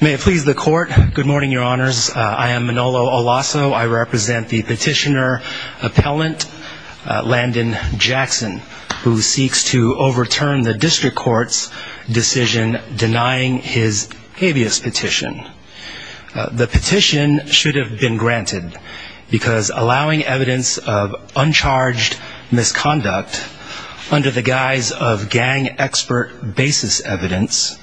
May it please the court good morning your honors I am Manolo Olasso I represent the petitioner appellant Landon Jackson who seeks to overturn the district courts decision denying his habeas petition the petition should have been granted because allowing evidence of uncharged misconduct under the guise of gang expert basis evidence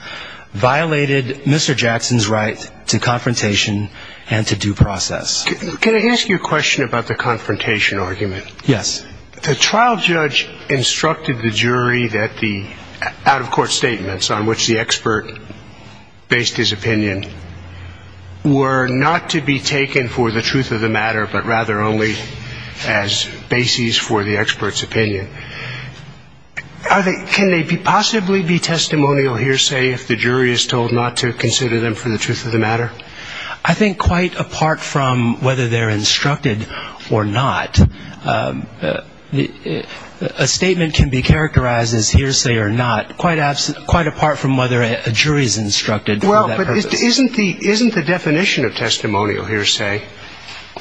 violated Mr. Jackson's right to confrontation and to due process can I ask you a question about the confrontation argument yes the trial judge instructed the jury that the out of court statements on which the expert based his opinion were not to be taken for the truth of the matter I think quite apart from whether they're instructed or not a statement can be characterized as hearsay or not quite absent quite apart from whether a jury is instructed well isn't the isn't the definition of testimonial hearsay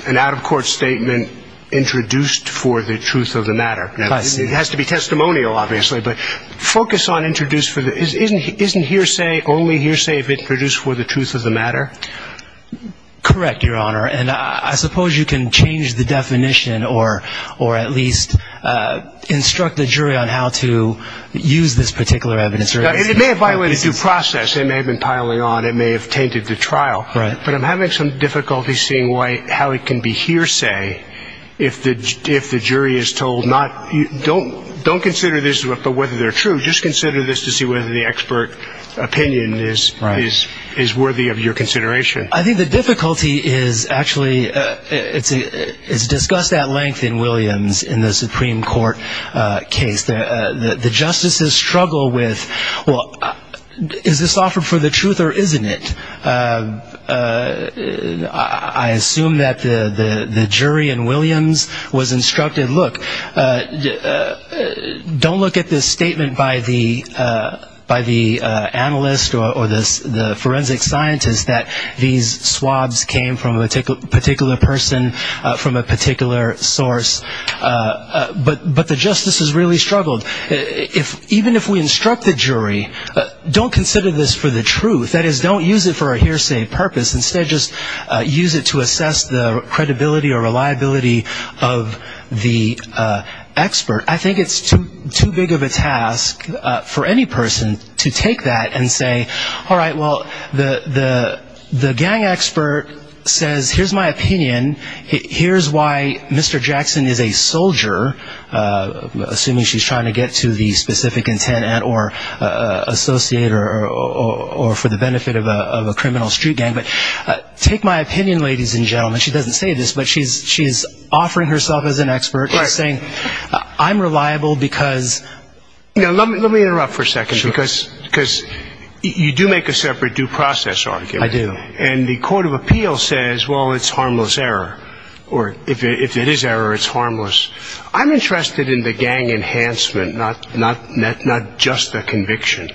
an out-of-court statement introduced for the truth of the matter it has to be testimonial obviously but it has to be a statement focus on introduced for the isn't he isn't hearsay only hearsay if it's produced for the truth of the matter correct your honor and I suppose you can change the definition or or at least instruct the jury on how to use this particular evidence or it may have violated due process they may have been piling on it may have tainted the trial right but I'm having some difficulty seeing why how it can be hearsay if the if the jury is told not you don't don't consider this but whether they're true just consider this to see whether the expert opinion is right is is worthy of your consideration I think the difficulty is actually it's a it's discussed at length in Williams in the Supreme Court case that the justices struggle with well is this offered for the truth or isn't it I assume that the the jury and Williams was instructed look don't look at this statement by the by the analyst or this the forensic scientists that these swabs came from a particular person from a particular source but but the justice is really struggled if even if we instruct the jury don't consider this for the truth that is don't use it for a hearsay purpose instead just use it to assess the credibility or reliability of the expert I think it's too too big of a task for any person to take that and say all right well the the the gang expert says here's my opinion here's why mr. Jackson is a soldier assuming she's trying to get to the specific intent or associate or for the benefit of a criminal street gang but take my opinion ladies and gentlemen she doesn't say this but she's she's offering herself as an expert saying I'm reliable because you know let me let me interrupt for a second because because you do make a separate due process argument I do and the Court of Appeal says well it's harmless error or if it is error it's enhancement not not net not just a conviction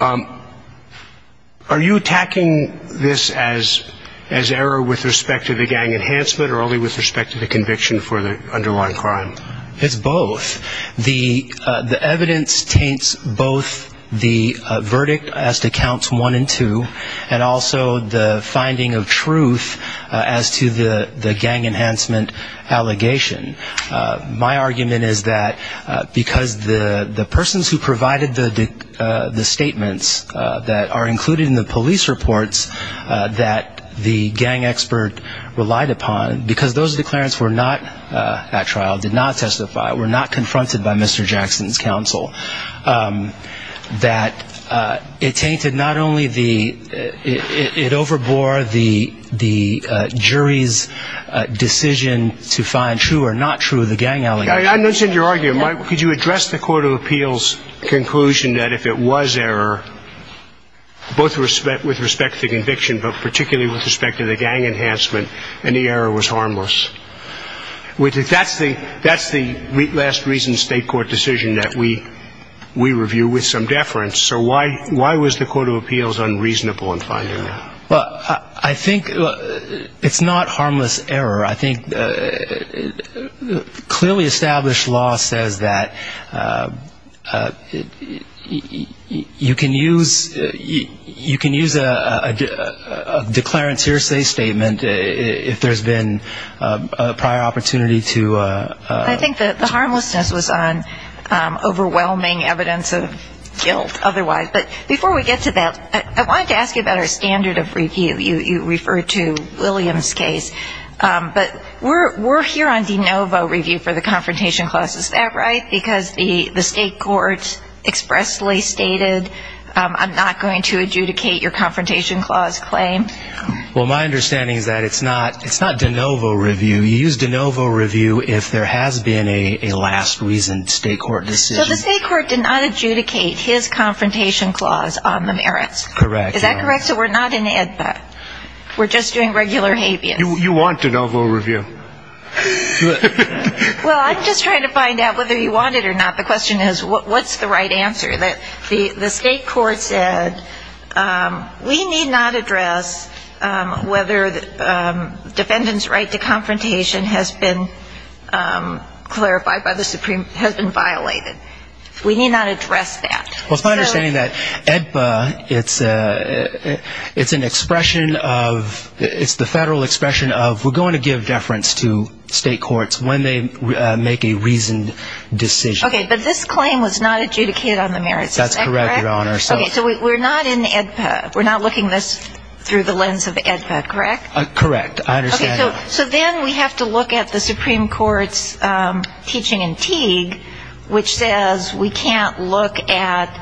are you attacking this as as error with respect to the gang enhancement or only with respect to the conviction for the underlying crime it's both the the evidence taints both the verdict as to counts one and two and also the finding of truth as to the the gang enhancement allegation my argument is that because the the persons who provided the the statements that are included in the police reports that the gang expert relied upon because those declarants were not at trial did not testify were not confronted by Mr. Jackson's counsel that it tainted not only the it overbore the the jury's decision to find true or not true of the gang allegation I mentioned your argument could you address the Court of Appeals conclusion that if it was error both respect with respect to conviction but particularly with respect to the gang enhancement and the error was harmless which is that's the that's the last reason state court decision that we we have to review with some deference so why why was the Court of Appeals unreasonable in finding well I think it's not harmless error I think clearly established law says that you can use you can use a declarant's hearsay statement if there's been a prior opportunity to I think that the evidence of guilt otherwise but before we get to that I wanted to ask you about our standard of review you you refer to Williams case but we're we're here on de novo review for the confrontation class is that right because the the state courts expressly stated I'm not going to adjudicate your confrontation clause claim well my understanding is that it's not it's not correct is that correct so we're not in EDPA we're just doing regular habeas you want de novo review well I'm just trying to find out whether you want it or not the question is what what's the right answer that the the state court said we need not address whether defendants are guilty or not we need not address that well it's my understanding that EDPA it's it's an expression of it's the federal expression of we're going to give deference to state courts when they make a reasoned decision okay but this claim was not adjudicated on the merits that's correct your honor so we're not in EDPA we're not looking this through the lens of the EDPA correct correct I understand so then we have to look at the Supreme Court's teaching in Teague which says we can't look at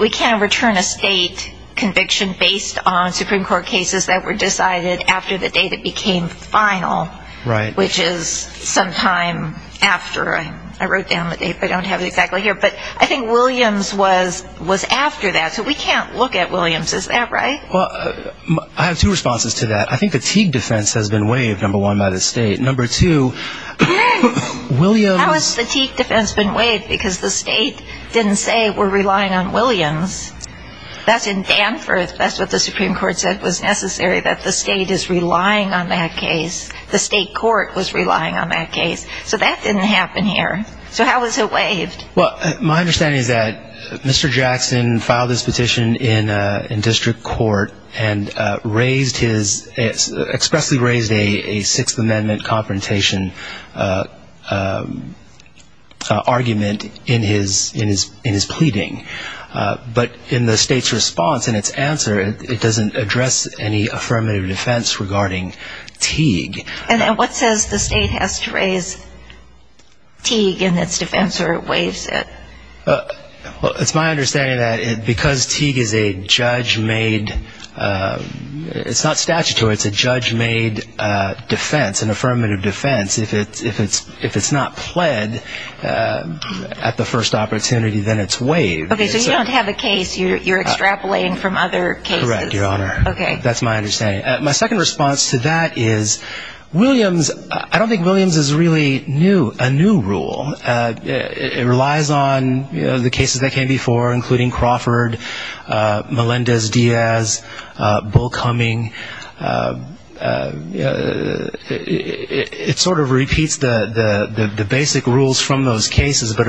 we can't return a state conviction based on Supreme Court cases that were decided after the day that became final right which is sometime after I wrote down the date I don't have it exactly here but I think Williams was was after that so we can't look at Williams is that right well I have two responses to that I think the Teague defense has been waived number one by the state number two Williams how has the Teague defense been waived because the state didn't say we're relying on Williams that's in Danforth that's what the Supreme Court said was necessary that the state is relying on that case the state court was relying on that case so that didn't happen here so how is it waived well my understanding is that Mr. Jackson filed his petition in in district court and raised his expressly raised a Sixth Amendment confrontation argument in his in his in his pleading but in the state's response and its answer it doesn't address any affirmative defense regarding Teague and what says the state has to raise Teague in its defense or waives it well it's my understanding that it because Teague is a judge made it's not statutory it's a judge made defense an affirmative defense if it's if it's if it's not pled at the first opportunity then it's waived okay so you don't have a case you're extrapolating from other cases right your honor okay that's my understanding my second response to that is Williams I don't think Williams is really new a new rule it relies on the cases that came before including Crawford Melendez Diaz Bull Cumming it sort of repeats the the basic rules from those cases but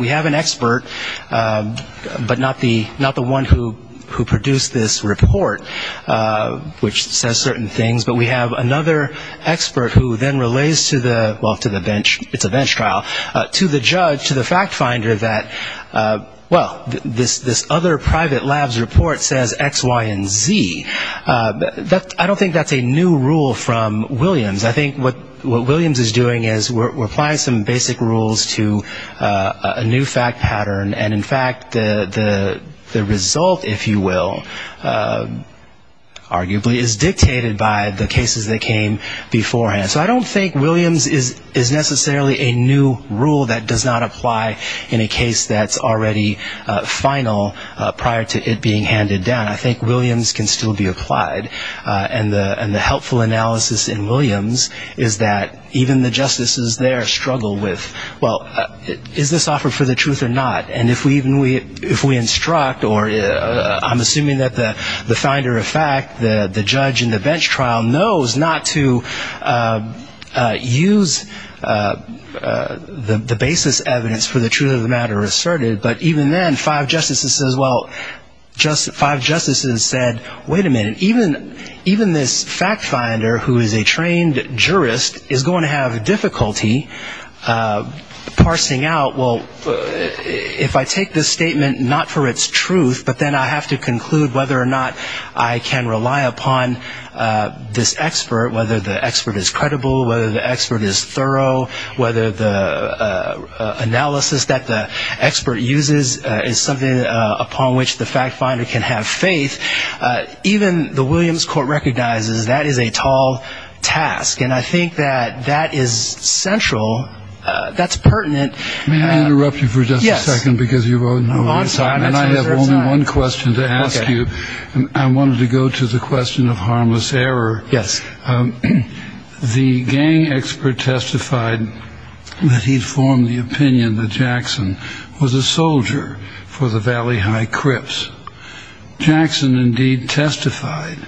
we have an expert but not the not the one who who produced this report which says certain things but we have another expert who then relays to the well to the bench it's a bench trial to the judge to the fact finder that well this this other private labs report says X Y and Z that I don't think that's a new rule from Williams I think what what Williams is doing is we're applying some basic rules to a new fact pattern and in fact the the result if you will arguably is dictated by the cases that came beforehand so I don't think Williams is is necessarily a new rule that does not apply in a case that's already final prior to it being handed down I think Williams can still be applied and the and the five justices there struggle with well is this offer for the truth or not and if we even we if we instruct or I'm assuming that the the finder of fact the judge in the bench trial knows not to use the basis evidence for the truth of the matter asserted but even then five justices as well just five justices said wait a minute even even this fact finder who is a trained jurist is going to have difficulty parsing out well if I take this statement not for its truth but then I have to conclude whether or not I can rely upon this expert whether the expert is credible whether the expert is thorough whether the analysis that the expert uses is something upon which the fact finder can have faith even the Williams court recognizes that is a tall task and I think that that is central that's pertinent may I interrupt you for just a second because you are on time and I have only one question to ask you and I wanted to go to the question of harmless error yes the gang expert testified that he'd formed the opinion that Jackson was a soldier for the Valley High Crips Jackson indeed testified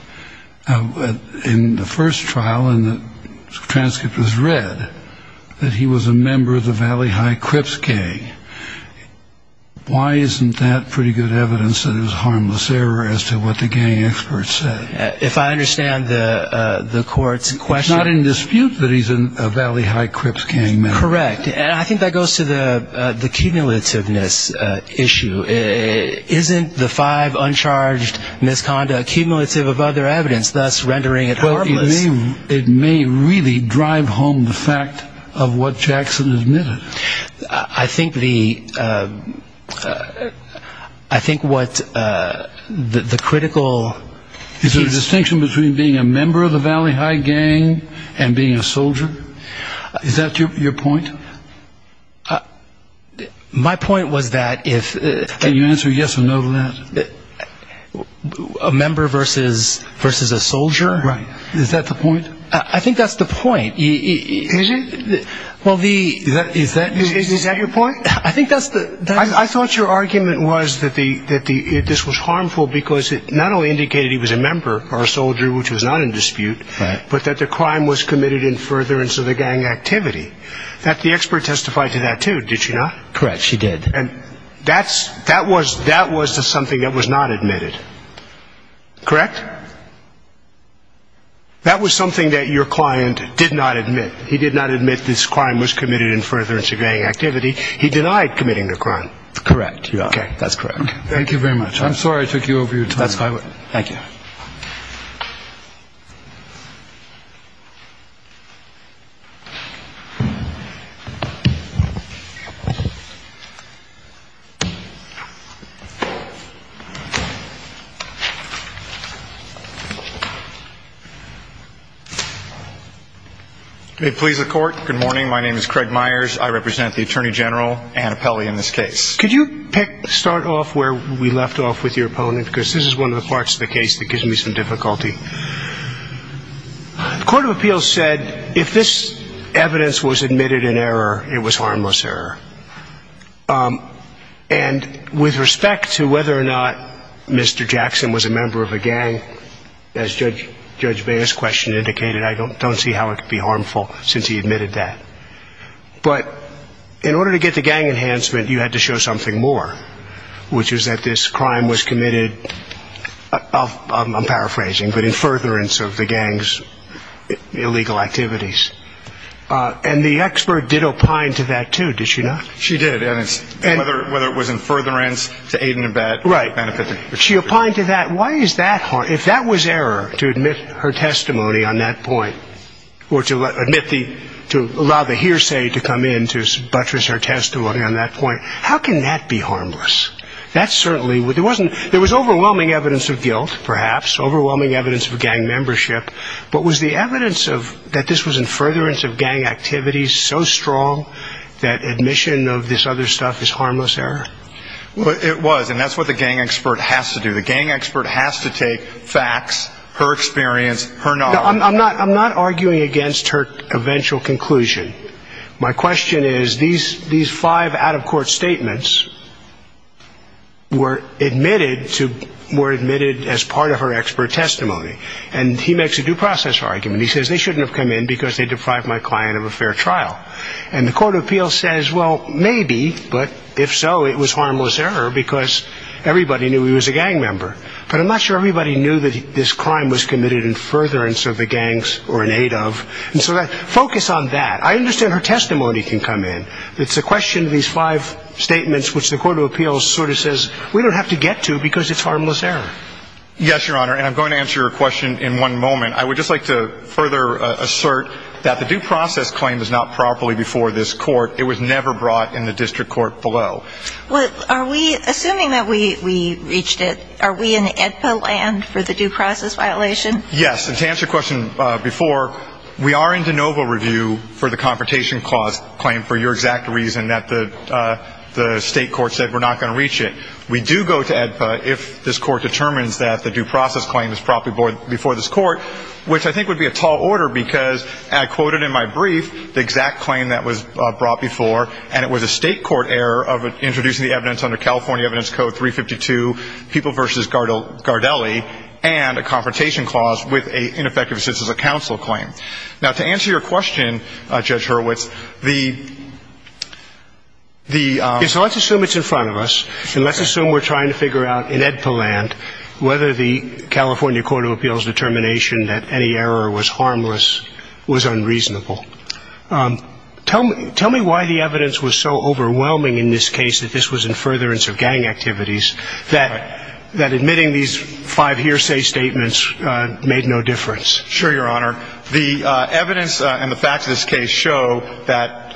that he was in the first trial and the transcript was read that he was a member of the Valley High Crips gang why isn't that pretty good evidence that it was harmless error as to what the gang expert said if I understand the court's question not in dispute that he's in a Valley High Crips gang correct and I think that goes to the the cumulativeness issue isn't the five uncharged misconduct cumulative of other evidence thus rendering it well you mean it may really drive home the fact of what Jackson admitted I think the I think what the critical is a distinction between being a member of the Valley High gang and being a soldier is that your point my point was that if you answer yes or no to that a member versus versus a soldier right is that the point I think that's the point well the is that is that your point I think that's the I thought your argument was that the that the this was harmful because it not only indicated he was a member or a soldier which was not in dispute but that the crime was committed in furtherance of the gang activity that the expert testified to that too did you not correct she did and that's that was that was to something that was not admitted correct that was something that your client did not admit he did not admit this crime was committed in furtherance of gang activity he denied committing the crime correct yeah okay that's correct thank you very much I'm sorry I took you over your time that's fine thank you please the court good morning my name is Craig Myers I represent the Attorney General and a Pele in this case could you pick start off where we left off with your opponent because this is one of the parts of the case that gives me some difficulty the Court of Appeals said if this evidence was admitted in error it would not be considered a crime and with respect to whether or not Mr. Jackson was a member of a gang as judge judge Bayer's question indicated I don't don't see how it could be harmful since he admitted that but in order to get the gang enhancement you had to show something more which is that this crime was committed I'm paraphrasing but in furtherance of the gang's illegal activities and the whether it was in furtherance to aid and abet right benefit she applied to that why is that hard if that was error to admit her testimony on that point or to admit the to allow the hearsay to come in to buttress her testimony on that point how can that be harmless that's certainly what there wasn't there was overwhelming evidence of guilt perhaps overwhelming evidence of gang membership but was the evidence of that this was in furtherance of gang activities so strong that admission of this other stuff is harmless error it was and that's what the gang expert has to do the gang expert has to take facts her experience her no I'm not I'm not arguing against her eventual conclusion my question is these these five out of court statements were admitted to were admitted as part of her expert testimony and he makes a due process argument he says they shouldn't have come in because they deprived my client of a fair trial and the court of appeals says well maybe but if so it was harmless error because everybody knew he was a gang member but I'm not sure everybody knew that this crime was committed in furtherance of the gangs or in aid of and so that focus on that I understand her testimony can come in it's a question of these five statements which the court of appeals sort of says we don't have to get to because it's harmless error yes your honor and I'm going to answer your question in one moment I would just like to further assert that the due process claim is not properly before this court it was never brought in the district court below well are we assuming that we reached it are we in the EDPA land for the due process violation yes and to answer your question before we are in de novo review for the state court said we're not going to reach it we do go to EDPA if this court determines that the due process claim is properly before this court which I think would be a tall order because I quoted in my brief the exact claim that was brought before and it was a state court error of introducing the evidence under California evidence code 352 people versus Gardelli and a confrontation clause with a ineffective assistance of counsel claim now to answer your question in one moment I would like to further assert that the due process claim is not properly before this court yes your honor and I'm going to answer your question before we are in de novo review for the state court said we are not going to reach it we do go to EDPA whether the California court of appeals determination that any error was harmless was unreasonable tell me tell me why the evidence was so overwhelming in this case that this was in furtherance of gang activities that admitting these five hearsay statements made no difference sure your honor the evidence and the facts of this case show that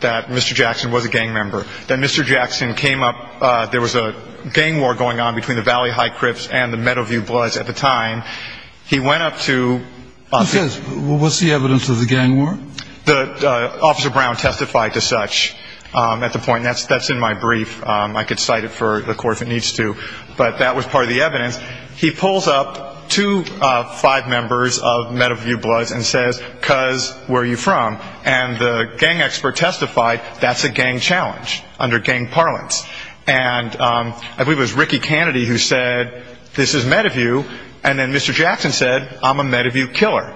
that mr. Jackson was a gang member that mr. Jackson came up there was a gang war going on between the Valley High Crips and the Meadowview Bloods at the time he went up to what's the evidence of the gang war the officer Brown testified to such at the point that's that's in my brief I get cited for the course it needs to but that was part of the evidence he pulls up to five members of Meadowview Bloods and says cuz where you from and the gang expert testified that's a gang challenge under gang parlance and I believe it was Ricky Kennedy who said this is Meadowview and then mr. Jackson said I'm a Meadowview killer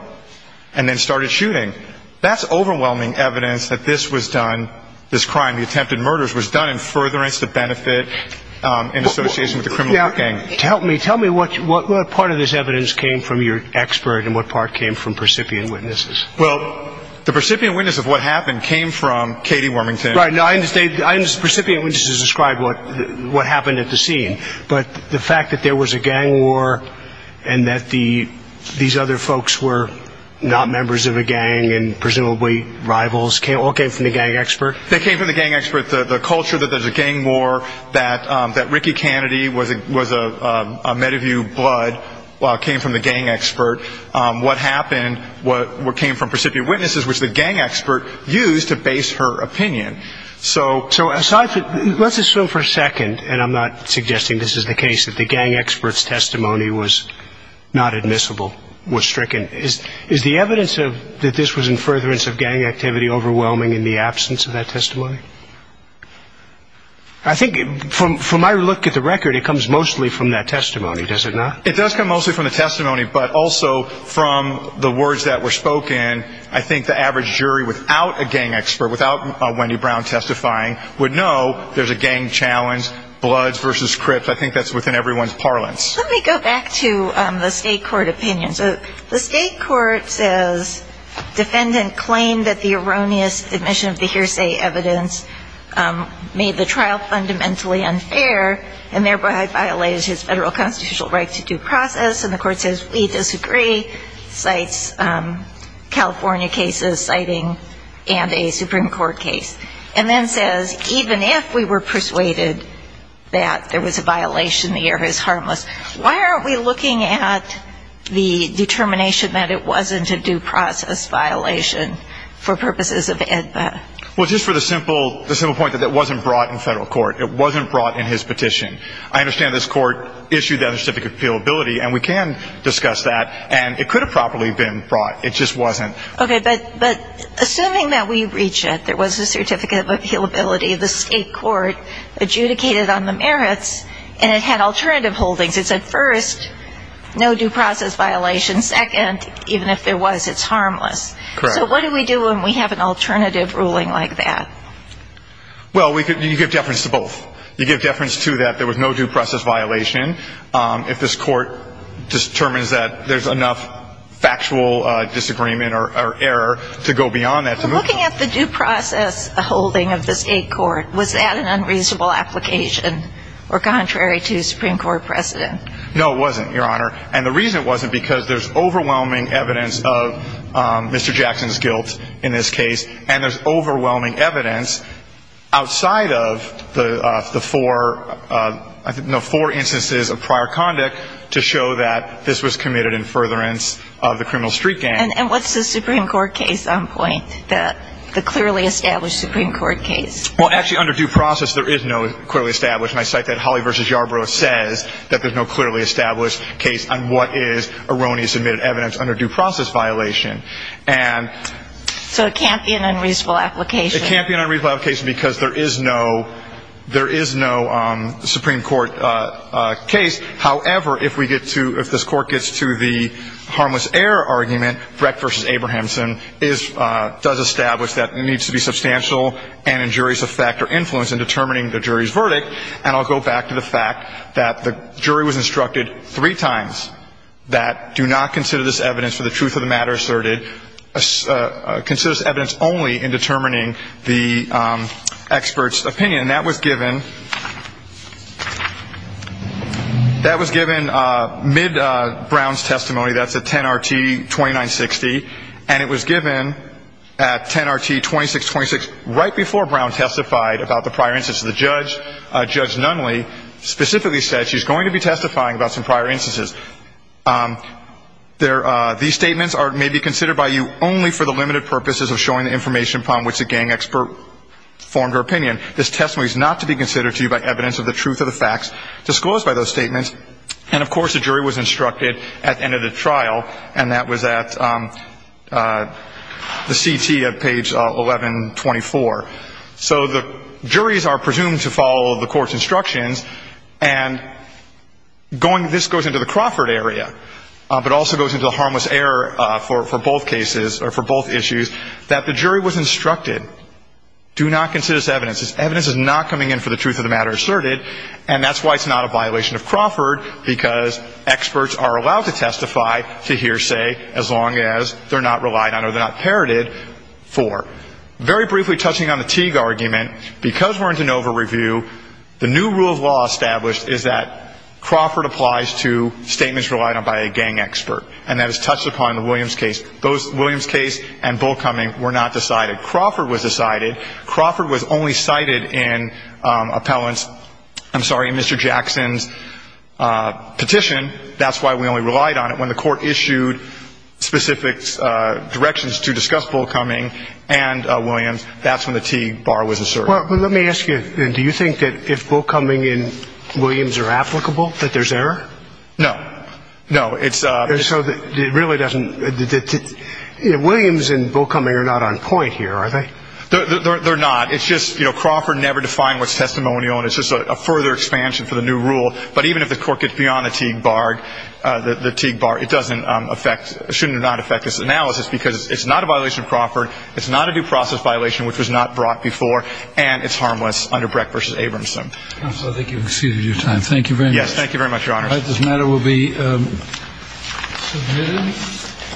and then started shooting that's overwhelming evidence that this was done this crime the attempted murders was done in furtherance to benefit in association with the criminal gang tell me tell me what part of this evidence came from your expert and what part came from percipient witnesses well the percipient witness of what happened came from Katie Wormington I understand the percipient witnesses described what happened at the scene but the fact that there was a gang war and that these other folks were not gang expert the culture that there's a gang war that that Ricky Kennedy was a was a Meadowview Blood came from the gang expert what happened what came from percipient witnesses which the gang expert used to base her opinion so let's assume for a second and I'm not suggesting this is the case that the gang experts testimony was not admissible was stricken is the evidence of that this was in furtherance of gang activity overwhelming in the absence of that testimony I think from from my look at the record it comes mostly from that testimony does it not it does come mostly from the testimony but also from the words that were spoken I think the average jury without a gang expert without Wendy Brown testifying would know there's a gang challenge Bloods versus Crips I think that's within everyone's let's go back to the state court opinion so the state court says defendant claimed that the erroneous admission of the hearsay evidence made the trial fundamentally unfair and thereby violated his federal constitutional right to due process and the court says we disagree cites California cases citing and a Supreme Court case and then says even if we were persuaded that there was a violation the error is harmless why aren't we looking at the determination that it wasn't a due process violation for purposes of EDPA well just for the simple the simple point that that wasn't brought in federal court it wasn't brought in his petition I understand this court issued that a certificate of appeal ability and we can discuss that and it could have properly been brought it just wasn't okay but but assuming that we had alternative holdings it said first no due process violation second even if it was it's harmless so what do we do when we have an alternative ruling like that well we could you give deference to both you give deference to that there was no due process violation if this court determines that there's enough factual disagreement or error to go beyond that looking at the due process holding of the state court was that an unreasonable application or contrary to Supreme Court precedent no it wasn't your honor and the reason it wasn't because there's overwhelming evidence of Mr. Jackson's guilt in this case and there's overwhelming evidence outside of the four no four instances of prior conduct to show that this was committed in furtherance of the criminal street gang and what's the Supreme Court case on point that the clearly established Supreme Court case well actually under due process there is no clearly established my site that Holly versus Yarbrough says that there's no clearly established case on what is erroneous admitted evidence under due process violation and so it can't be an unreasonable application it can't be an unreasonable application because there is no there is no Supreme Court case however if we get to if this court gets to the harmless error argument Brett versus Abrahamson is does establish that needs to be substantial and injurious effect or influence in determining the jury's verdict and I'll go back to the fact that the jury was instructed three times that do not consider this evidence for the truth of the matter asserted considers evidence only in determining the expert's opinion that was given that was given mid Brown's testimony that's a 10 RT 2960 and it was given at 10 RT 2626 right before Brown testified about the prior instance of the judge judge Nunley specifically said she's going to be testifying about some prior instances there these statements are may be formed her opinion this testimony is not to be considered to you by evidence of the truth of the facts disclosed by those statements and of course the jury was instructed at the end of the trial and that was at the CT of page 1124 so the juries are presumed to follow the court's instructions and going this goes into the Crawford area but also goes into the harmless error for both cases or for both issues that the jury was instructed do not consider this evidence is evidence is not coming in for the truth of the matter asserted and that's why it's not a violation of Crawford because experts are allowed to testify to hear say as long as they're not relied on or they're not parroted for very briefly touching on the Teague argument because we're into an over review the new rule of law established is that Crawford applies to statements relied on by a gang expert and that is touched upon the Williams case those Williams case and bull coming were not decided Crawford was decided Crawford was only cited in appellants I'm sorry mr. Jackson's petition that's why we only relied on it when the court issued specific directions to discuss bull coming and Williams that's when the Teague bar was asserted let me ask you do you think that if bull coming in Williams are applicable that there's error no no it's so that it really doesn't Williams and bull coming are not on point here are they they're not it's just you know Crawford never defined what's testimonial and it's just a further expansion for the new rule but even if the court gets beyond the Teague bar the Teague bar it doesn't affect shouldn't not affect this analysis because it's not a violation of Crawford it's not a due process violation which was not brought before and it's harmless under Breck versus Abramson thank you very much this matter will be submitted